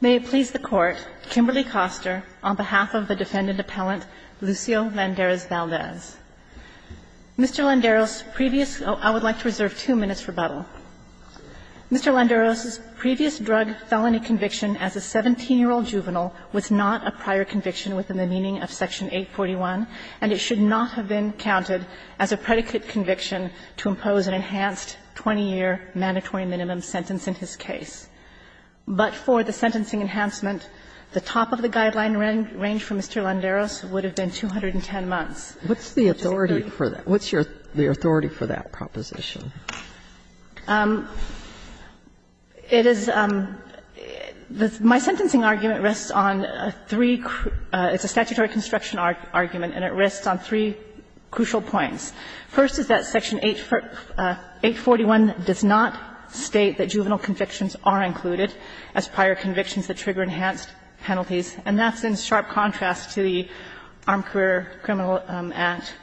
May it please the Court, Kimberly Koster, on behalf of the defendant appellant Lucio Landeros-Valdez. Mr. Landeros' previous – I would like to reserve two minutes for rebuttal. Mr. Landeros' previous drug felony conviction as a 17-year-old juvenile was not a prior conviction within the meaning of Section 841, and it should not have been counted as a predicate conviction to impose an enhanced 20-year mandatory minimum sentence in his case. But for the sentencing enhancement, the top of the guideline range for Mr. Landeros would have been 210 months. What's the authority for that? What's your – the authority for that proposition? It is – my sentencing argument rests on three – it's a statutory construction argument, and it rests on three crucial points. First is that Section 841 does not state that juvenile convictions are included as prior convictions that trigger enhanced penalties, and that's in sharp contrast to the Armed Career Criminal Act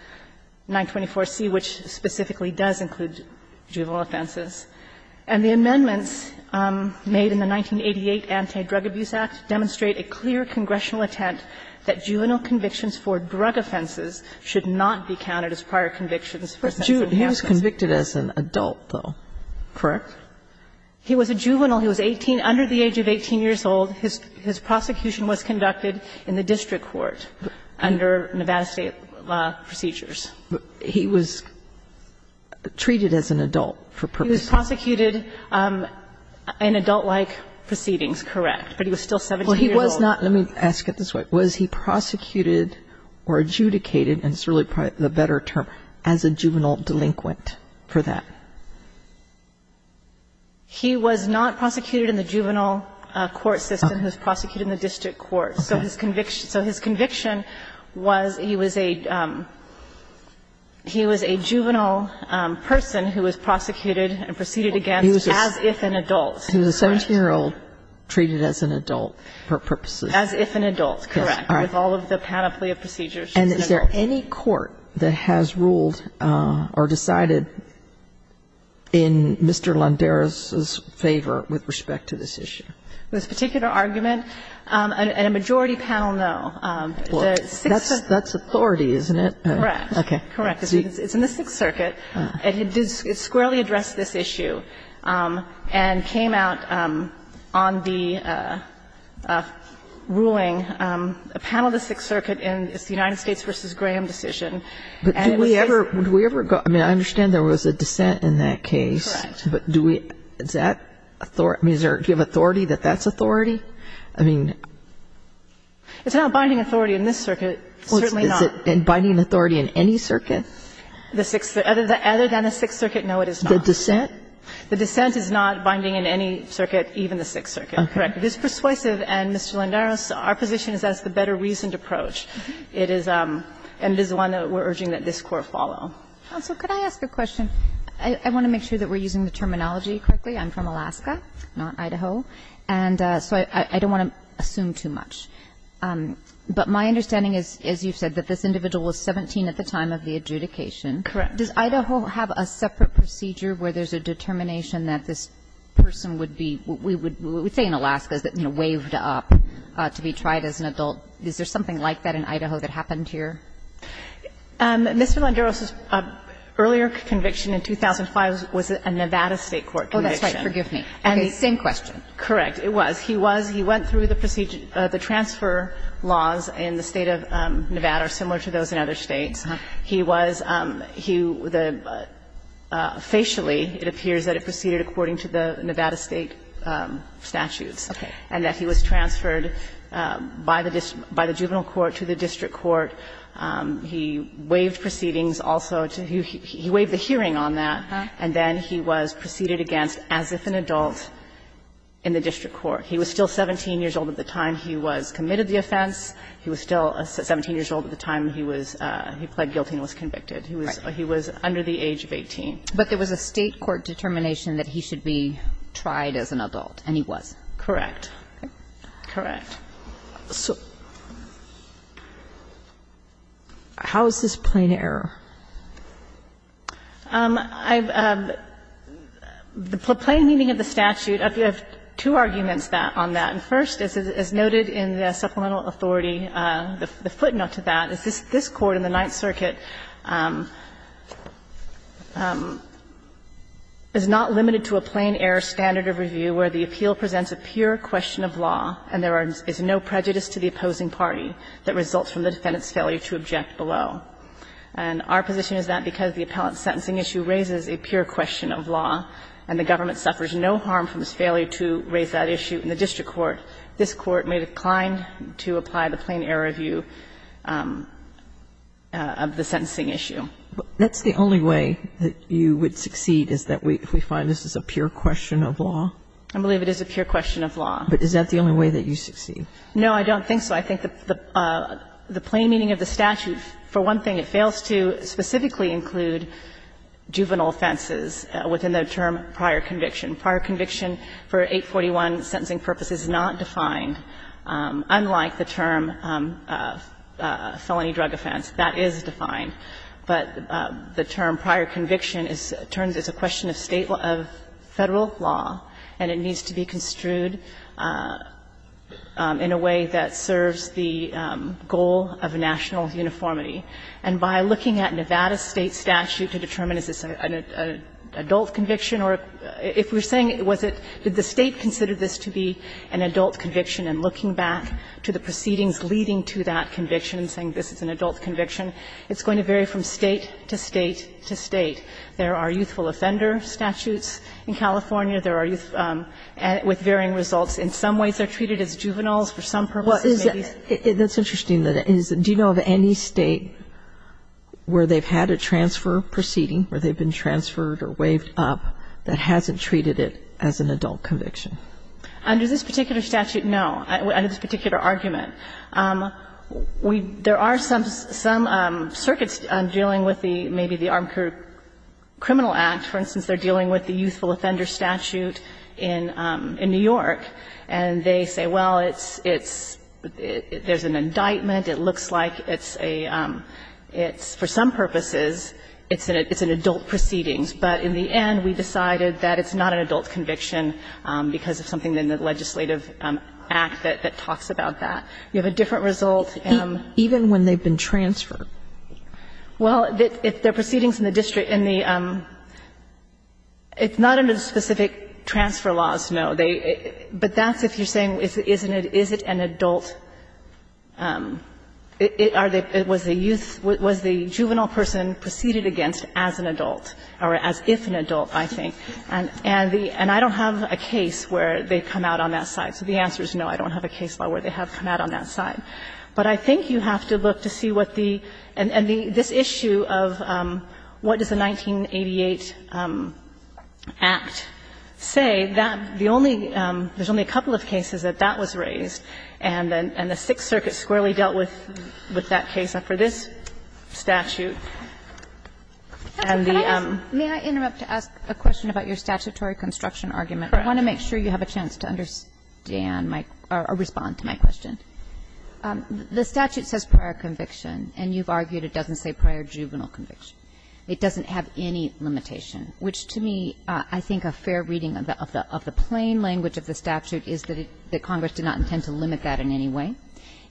924C, which specifically does include juvenile offenses. And the amendments made in the 1988 Anti-Drug Abuse Act demonstrate a clear congressional intent that juvenile convictions for drug offenses should not be counted as prior convictions for sentencing enhancements. But he was convicted as an adult, though, correct? He was a juvenile. He was 18 – under the age of 18 years old. His prosecution was conducted in the district court under Nevada State law procedures. He was treated as an adult for purposes. He was prosecuted in adult-like proceedings, correct, but he was still 17 years old. Well, he was not – let me ask it this way. Was he prosecuted or adjudicated – and it's really the better term – as a juvenile delinquent for that? He was not prosecuted in the juvenile court system. He was prosecuted in the district court. So his conviction – so his conviction was he was a – he was a juvenile person who was prosecuted and proceeded against as if an adult. He was a 17-year-old treated as an adult for purposes. As if an adult. Correct. With all of the panoply of procedures. And is there any court that has ruled or decided in Mr. Landeras's favor with respect to this issue? This particular argument, a majority panel, no. That's authority, isn't it? Correct. Okay. Correct. It's in the Sixth Circuit. It did squarely address this issue and came out on the ruling that it was a juvenile panel, the Sixth Circuit, and it's the United States v. Graham decision. But do we ever go – I mean, I understand there was a dissent in that case. Correct. But do we – is that – I mean, is there – do you have authority that that's authority? I mean – It's not binding authority in this circuit. It's certainly not. Is it binding authority in any circuit? The Sixth – other than the Sixth Circuit, no, it is not. The dissent? The dissent is not binding in any circuit, even the Sixth Circuit. Correct. This persuasive, and, Mr. Lendaros, our position is that's the better reasoned approach. It is – and this is one that we're urging that this Court follow. Counsel, could I ask a question? I want to make sure that we're using the terminology correctly. I'm from Alaska, not Idaho, and so I don't want to assume too much. But my understanding is, as you've said, that this individual was 17 at the time of the adjudication. Correct. Does Idaho have a separate procedure where there's a determination that this person would be – we would say in Alaska is that, you know, waived up to be tried as an adult. Is there something like that in Idaho that happened here? Mr. Lendaros' earlier conviction in 2005 was a Nevada State court conviction. Oh, that's right. Forgive me. Okay. Same question. Correct. It was. He was – he went through the procedure – the transfer laws in the State of Nevada are similar to those in other States. He was – he – the – facially, it appears that it proceeded according to the Nevada State statutes. Okay. And that he was transferred by the – by the juvenile court to the district court. He waived proceedings also to – he waived the hearing on that. And then he was proceeded against as if an adult in the district court. He was still 17 years old at the time he was committed the offense. He was still 17 years old at the time he was – he pled guilty and was convicted. He was – he was under the age of 18. But there was a State court determination that he should be tried as an adult, and he was. Correct. Correct. So how is this plain error? I've – the plain meaning of the statute, I have two arguments on that. And first, as noted in the supplemental authority, the footnote to that is this court in the Ninth Circuit is not limited to a plain-error standard of review where the appeal presents a pure question of law, and there is no prejudice to the opposing party that results from the defendant's failure to object below. And our position is that because the appellant's sentencing issue raises a pure question of law, and the government suffers no harm from its failure to raise that issue in the district court, this Court may decline to apply the plain-error review. And that's the only way that you would succeed, is that if we find this is a pure question of law? I believe it is a pure question of law. But is that the only way that you succeed? No, I don't think so. I think the – the plain meaning of the statute, for one thing, it fails to specifically include juvenile offenses within the term prior conviction. Prior conviction for 841 sentencing purpose is not defined, unlike the term for juvenile offense, felony drug offense, that is defined. But the term prior conviction is – turns as a question of State – of Federal law, and it needs to be construed in a way that serves the goal of national uniformity. And by looking at Nevada State statute to determine is this an adult conviction or – if we're saying was it – did the State consider this to be an adult conviction and looking back to the proceedings leading to that conviction and saying this is an adult conviction, it's going to vary from State to State to State. There are youthful offender statutes in California. There are youth – with varying results. In some ways, they're treated as juveniles. For some purposes, maybe it's – Well, is it – that's interesting that it is. Do you know of any State where they've had a transfer proceeding, where they've been transferred or waived up, that hasn't treated it as an adult conviction? Under this particular statute, no. Under this particular argument. We – there are some – some circuits dealing with the – maybe the Armed Crew Criminal Act. For instance, they're dealing with the youthful offender statute in New York. And they say, well, it's – it's – there's an indictment. It looks like it's a – it's, for some purposes, it's an adult proceedings. But in the end, we decided that it's not an adult conviction because of something in the legislative act that – that talks about that. You have a different result. Even when they've been transferred? Well, the proceedings in the district in the – it's not under the specific transfer laws, no. They – but that's if you're saying is it an adult – are they – was the youth person preceded against as an adult or as if an adult, I think? And the – and I don't have a case where they've come out on that side. So the answer is no, I don't have a case where they have come out on that side. But I think you have to look to see what the – and the – this issue of what does the 1988 Act say, that the only – there's only a couple of cases that that was raised, and the Sixth Circuit squarely dealt with that case. So for this statute and the – May I interrupt to ask a question about your statutory construction argument? Correct. I want to make sure you have a chance to understand my – or respond to my question. The statute says prior conviction, and you've argued it doesn't say prior juvenile conviction. It doesn't have any limitation, which to me, I think a fair reading of the – of the plain language of the statute is that it – that Congress did not intend to limit that in any way.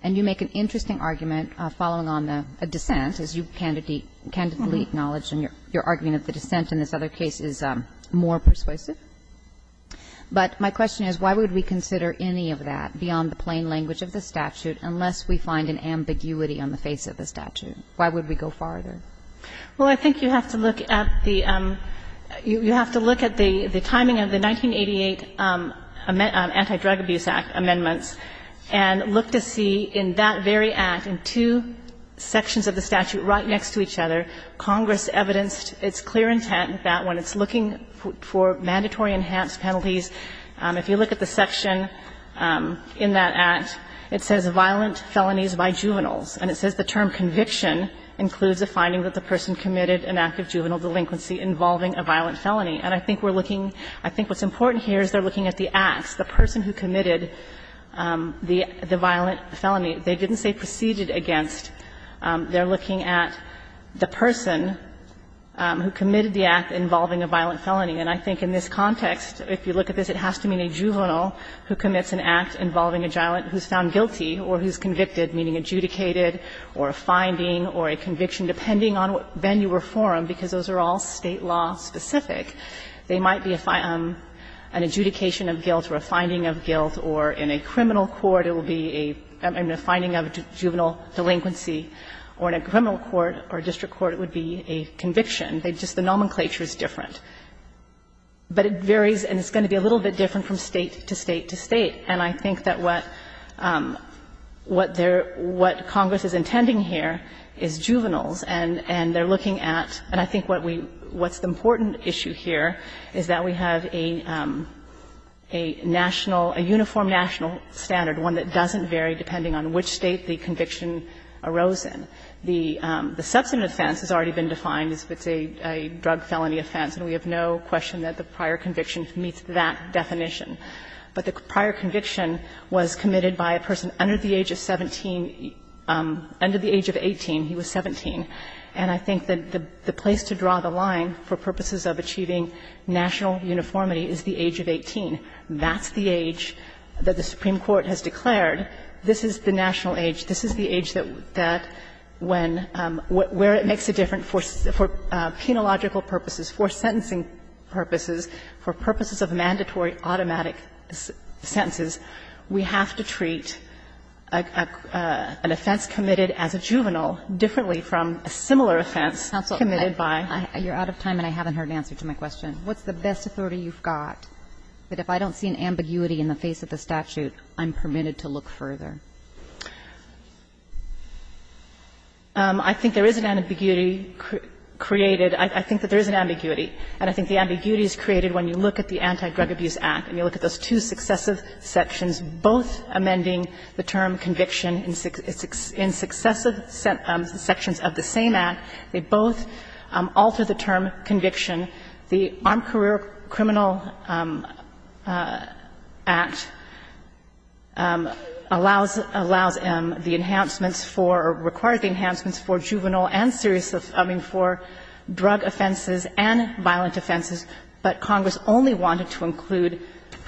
And you make an interesting argument following on a dissent, as you candidly acknowledge in your argument of the dissent in this other case is more persuasive. But my question is, why would we consider any of that beyond the plain language of the statute unless we find an ambiguity on the face of the statute? Why would we go farther? Well, I think you have to look at the – you have to look at the timing of the 1988 Anti-Drug Abuse Act amendments and look to see in that very act, in two sections of the statute right next to each other, Congress evidenced its clear intent that when it's looking for mandatory enhanced penalties, if you look at the section in that act, it says violent felonies by juveniles. And it says the term conviction includes a finding that the person committed an act of juvenile delinquency involving a violent felony. And I think we're looking – I think what's important here is they're looking at the acts, the person who committed the violent felony. They didn't say proceeded against. They're looking at the person who committed the act involving a violent felony. And I think in this context, if you look at this, it has to mean a juvenile who commits an act involving a violent – who's found guilty or who's convicted, meaning adjudicated or a finding or a conviction, depending on what venue or forum, because those are all State law specific. They might be an adjudication of guilt or a finding of guilt, or in a criminal court it will be a finding of juvenile delinquency, or in a criminal court or a district court it would be a conviction. They just – the nomenclature is different. But it varies and it's going to be a little bit different from State to State to State. And I think that what they're – what Congress is intending here is juveniles and they're looking at – and I think what we – what's the important issue here is that we have a national – a uniform national standard, one that doesn't vary depending on which State the conviction arose in. The substantive offense has already been defined as if it's a drug felony offense, and we have no question that the prior conviction meets that definition. But the prior conviction was committed by a person under the age of 17 – under the age of 18, he was 17. And I think that the place to draw the line for purposes of achieving national uniformity is the age of 18. That's the age that the Supreme Court has declared. This is the national age. This is the age that when – where it makes a difference for – for penological purposes, for sentencing purposes, for purposes of mandatory automatic sentences, we have to treat an offense committed as a juvenile differently from a similar offense committed by — Kagan. You're out of time and I haven't heard an answer to my question. What's the best authority you've got that if I don't see an ambiguity in the face of the statute, I'm permitted to look further? I think there is an ambiguity created. I think that there is an ambiguity. And I think the ambiguity is created when you look at the Anti-Drug Abuse Act and when you look at those two successive sections, both amending the term conviction in successive sections of the same act. They both alter the term conviction. The Armed Career Criminal Act allows – allows the enhancements for – requires the enhancements for juvenile and serious – I mean, for drug offenses and violent offenses, but Congress only wanted to include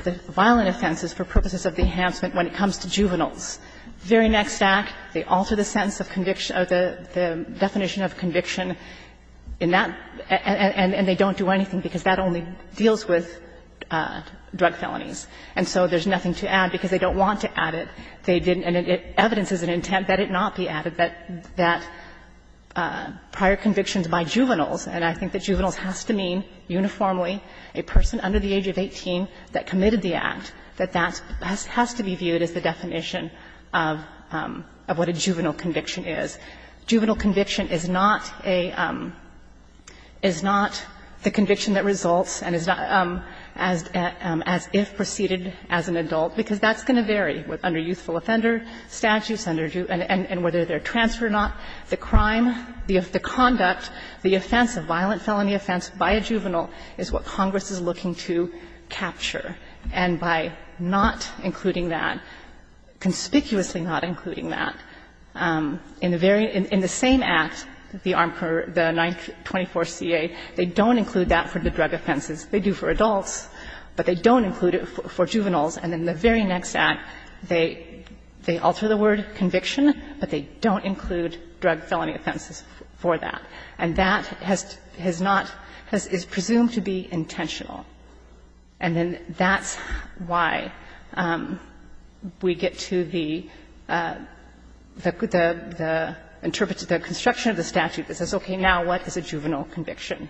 the violent offenses for purposes of the enhancement when it comes to juveniles. The very next act, they alter the sentence of conviction – or the definition of conviction in that, and they don't do anything because that only deals with drug felonies. And so there's nothing to add because they don't want to add it. They didn't – and evidence is an intent that it not be added, that prior convictions by juveniles. And I think that juveniles has to mean uniformly a person under the age of 18 that committed the act, that that has to be viewed as the definition of what a juvenile conviction is. Juvenile conviction is not a – is not the conviction that results and is not as if preceded as an adult, because that's going to vary under youthful offender statutes and whether they're trans or not. The crime, the conduct, the offense, the violent felony offense by a juvenile is what Congress is looking to capture. And by not including that, conspicuously not including that, in the very – in the same act, the 924CA, they don't include that for the drug offenses. They do for adults, but they don't include it for juveniles. And in the very next act, they – they alter the word conviction, but they don't include drug felony offenses for that. And that has not – is presumed to be intentional. And then that's why we get to the – the construction of the statute that says, okay, now what is a juvenile conviction?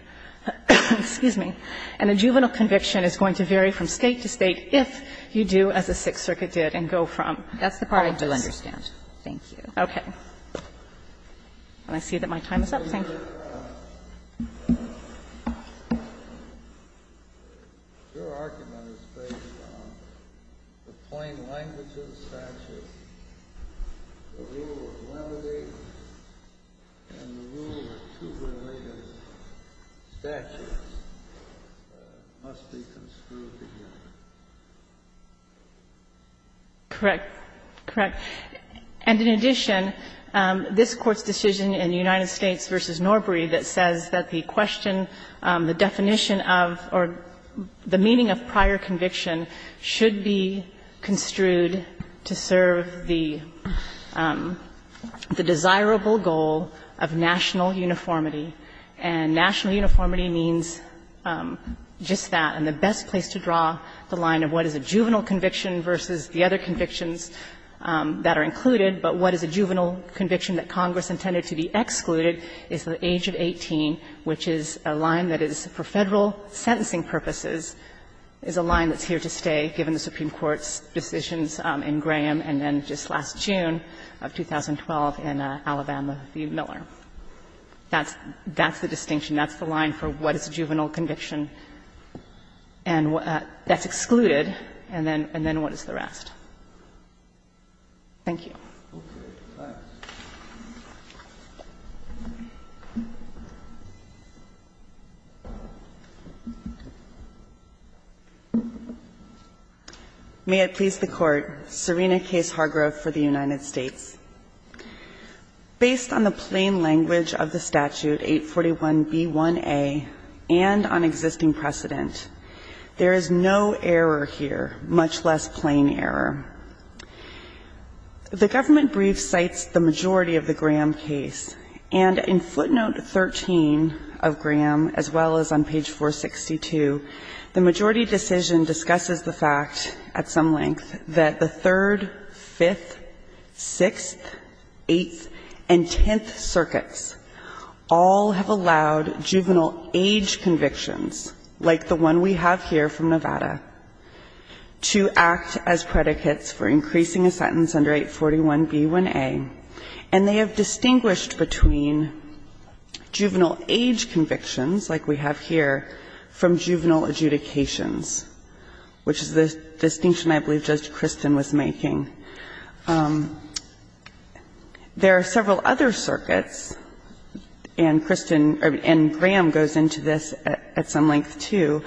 Excuse me. And a juvenile conviction is going to vary from State to State if you do, as the Sixth Circuit did, and go from practice. Kagan. Thank you. Okay. And I see that my time is up. Thank you. Your argument is based on the plain language of the statute. The rule of limited and the rule of two related statutes must be construed together. Correct. Correct. And in addition, this Court's decision in United States v. Norbury that says that the question, the definition of or the meaning of prior conviction should be construed to serve the – the desirable goal of national uniformity. And national uniformity means just that, and the best place to draw the line of what is a juvenile conviction that Congress intended to be excluded is the age of 18, which is a line that is, for Federal sentencing purposes, is a line that's here to stay given the Supreme Court's decisions in Graham and then just last June of 2012 in Alabama v. Miller. That's the distinction. That's the line for what is a juvenile conviction. And that's excluded. And then what is the rest? Thank you. May it please the Court. Serena Case Hargrove for the United States. Based on the plain language of the statute 841b1a and on existing precedent, there is no error here, much less plain error. The government brief cites the majority of the Graham case, and in footnote 13 of Graham as well as on page 462, the majority decision discusses the fact at some length that the third, fifth, sixth, eighth, and tenth circuits all have allowed juvenile age convictions like the one we have here from Nevada to act as predicates for increasing a sentence under 841b1a, and they have distinguished between juvenile age convictions, like we have here, from juvenile adjudications, which is the distinction I believe Judge Kristen was making. There are several other circuits, and Kristen or Graham goes into this at some length, too,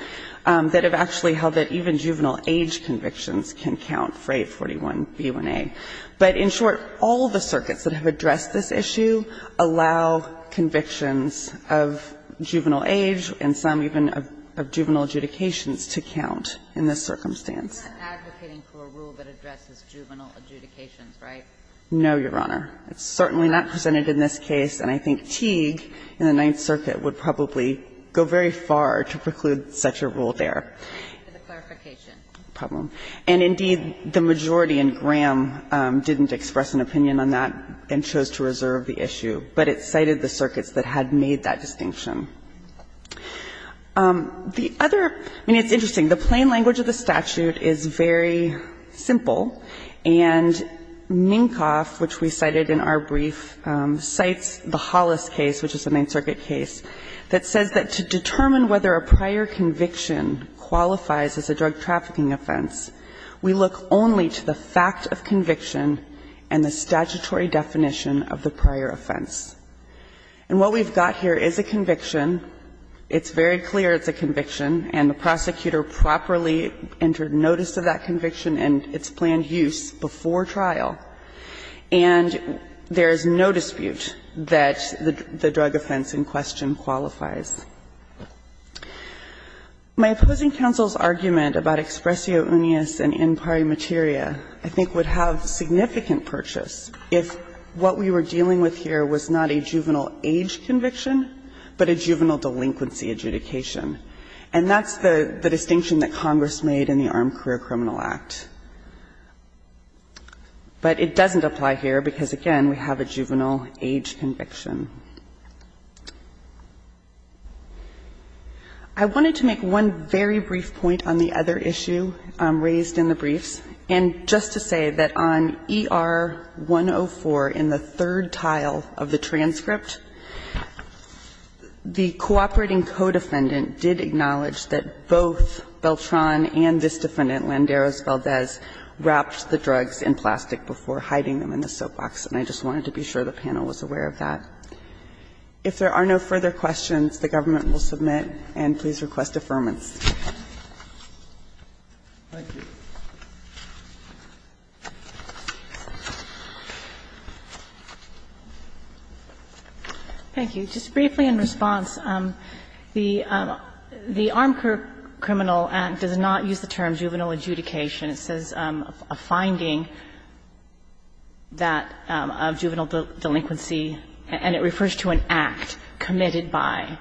that have actually held that even juvenile age convictions can count for 841b1a. But in short, all the circuits that have addressed this issue allow convictions of juvenile age and some even of juvenile adjudications to count in this circumstance. You're not advocating for a rule that addresses juvenile adjudications, right? No, Your Honor. It's certainly not presented in this case, and I think Teague in the Ninth Circuit would probably go very far to preclude such a rule there. And, indeed, the majority in Graham didn't express an opinion on that and chose to reserve the issue, but it cited the circuits that had made that distinction. The other – I mean, it's interesting. The plain language of the statute is very simple, and Minkoff, which we cited in our earlier case, that says that to determine whether a prior conviction qualifies as a drug trafficking offense, we look only to the fact of conviction and the statutory definition of the prior offense. And what we've got here is a conviction. It's very clear it's a conviction, and the prosecutor properly entered notice of that conviction and its planned use before trial. And there is no dispute that the drug offense in question qualifies. My opposing counsel's argument about expressio unius and in pari materia I think would have significant purchase if what we were dealing with here was not a juvenile age conviction, but a juvenile delinquency adjudication. And that's the distinction that Congress made in the Armed Career Criminal Act. But it doesn't apply here because, again, we have a juvenile age conviction. I wanted to make one very brief point on the other issue raised in the briefs, and just to say that on ER-104 in the third tile of the transcript, the cooperating co-defendant did acknowledge that both Beltran and this defendant, Landeros Valdez, wrapped the drugs in plastic before hiding them in the soapbox. And I just wanted to be sure the panel was aware of that. If there are no further questions, the government will submit, and please request affirmance. Thank you. Just briefly in response, the Armed Career Criminal Act does not use the term juvenile adjudication. It says a finding that of juvenile delinquency, and it refers to an act committed by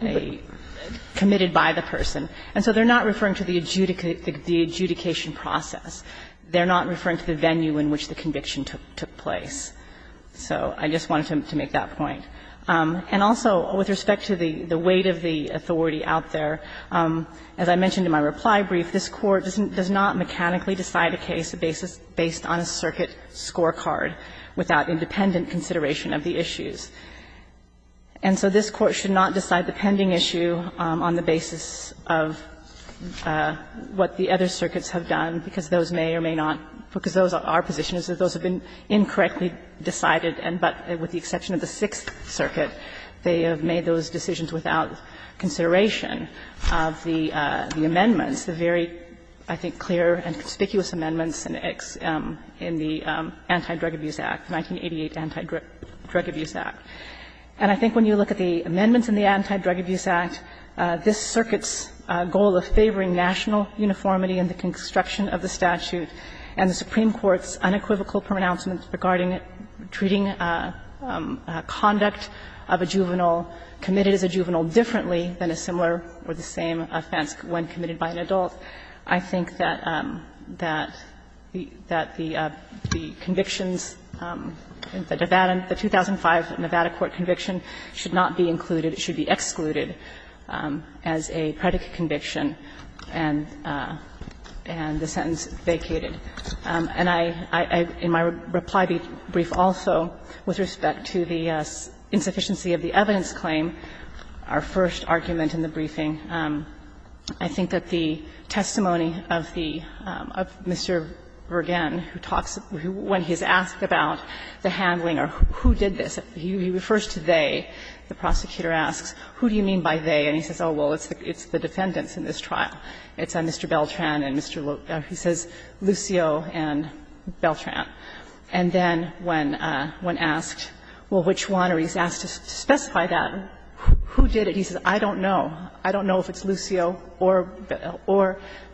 a person. And so they're not referring to the adjudication process. They're not referring to the venue in which the conviction took place. So I just wanted to make that point. And also, with respect to the weight of the authority out there, as I mentioned in my reply brief, this Court does not mechanically decide a case based on a circuit scorecard without independent consideration of the issues. And so this Court should not decide the pending issue on the basis of what the other circuits have done, because those may or may not be, because those are positions that those have been incorrectly decided, but with the exception of the Sixth Circuit, they have made those decisions without consideration of the amendments, the very, I think, clear and conspicuous amendments in the Anti-Drug Abuse Act, 1988 Anti-Drug Abuse Act. And I think when you look at the amendments in the Anti-Drug Abuse Act, this circuit's goal of favoring national uniformity in the construction of the statute and the Supreme Court's goal of a juvenile committed as a juvenile differently than a similar or the same offense when committed by an adult, I think that the convictions in the Nevada, the 2005 Nevada court conviction, should not be included. It should be excluded as a predicate conviction and the sentence vacated. And I, in my reply brief also, with respect to the insufficiency of the evidence claim, our first argument in the briefing, I think that the testimony of the, of Mr. Vergen, who talks, when he's asked about the handling or who did this, he refers to they. The prosecutor asks, who do you mean by they, and he says, oh, well, it's the defendants in this trial. It's Mr. Beltran and Mr. Lucio and Beltran. And then when asked, well, which one, or he's asked to specify that, who did it? He says, I don't know. I don't know if it's Lucio or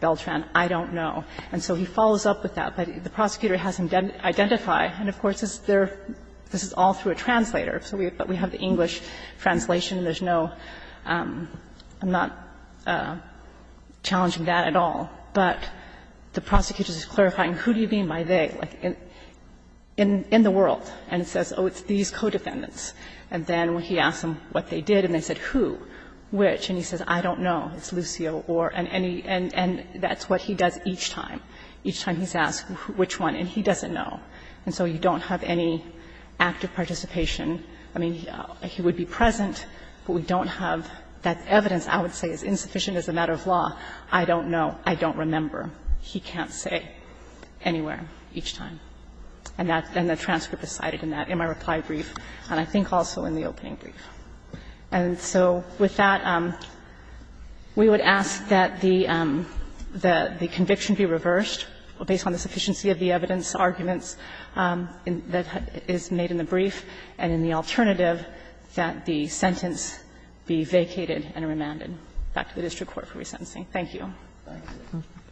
Beltran. I don't know. And so he follows up with that. But the prosecutor has him identify, and of course, this is all through a translator. But we have the English translation. And there's no, I'm not challenging that at all, but the prosecutor is clarifying, who do you mean by they, like, in the world. And it says, oh, it's these co-defendants. And then when he asks them what they did and they said who, which, and he says, I don't know. It's Lucio or, and any, and that's what he does each time, each time he's asked which one, and he doesn't know. And so you don't have any active participation. I mean, he would be present, but we don't have that evidence, I would say, as insufficient as a matter of law. I don't know. I don't remember. He can't say anywhere each time. And that, and the transcript is cited in that, in my reply brief, and I think also in the opening brief. And so with that, we would ask that the conviction be reversed based on the sufficiency of the evidence, arguments that is made in the brief, and in the alternative, that the sentence be vacated and remanded. Back to the district court for resentencing. Thank you.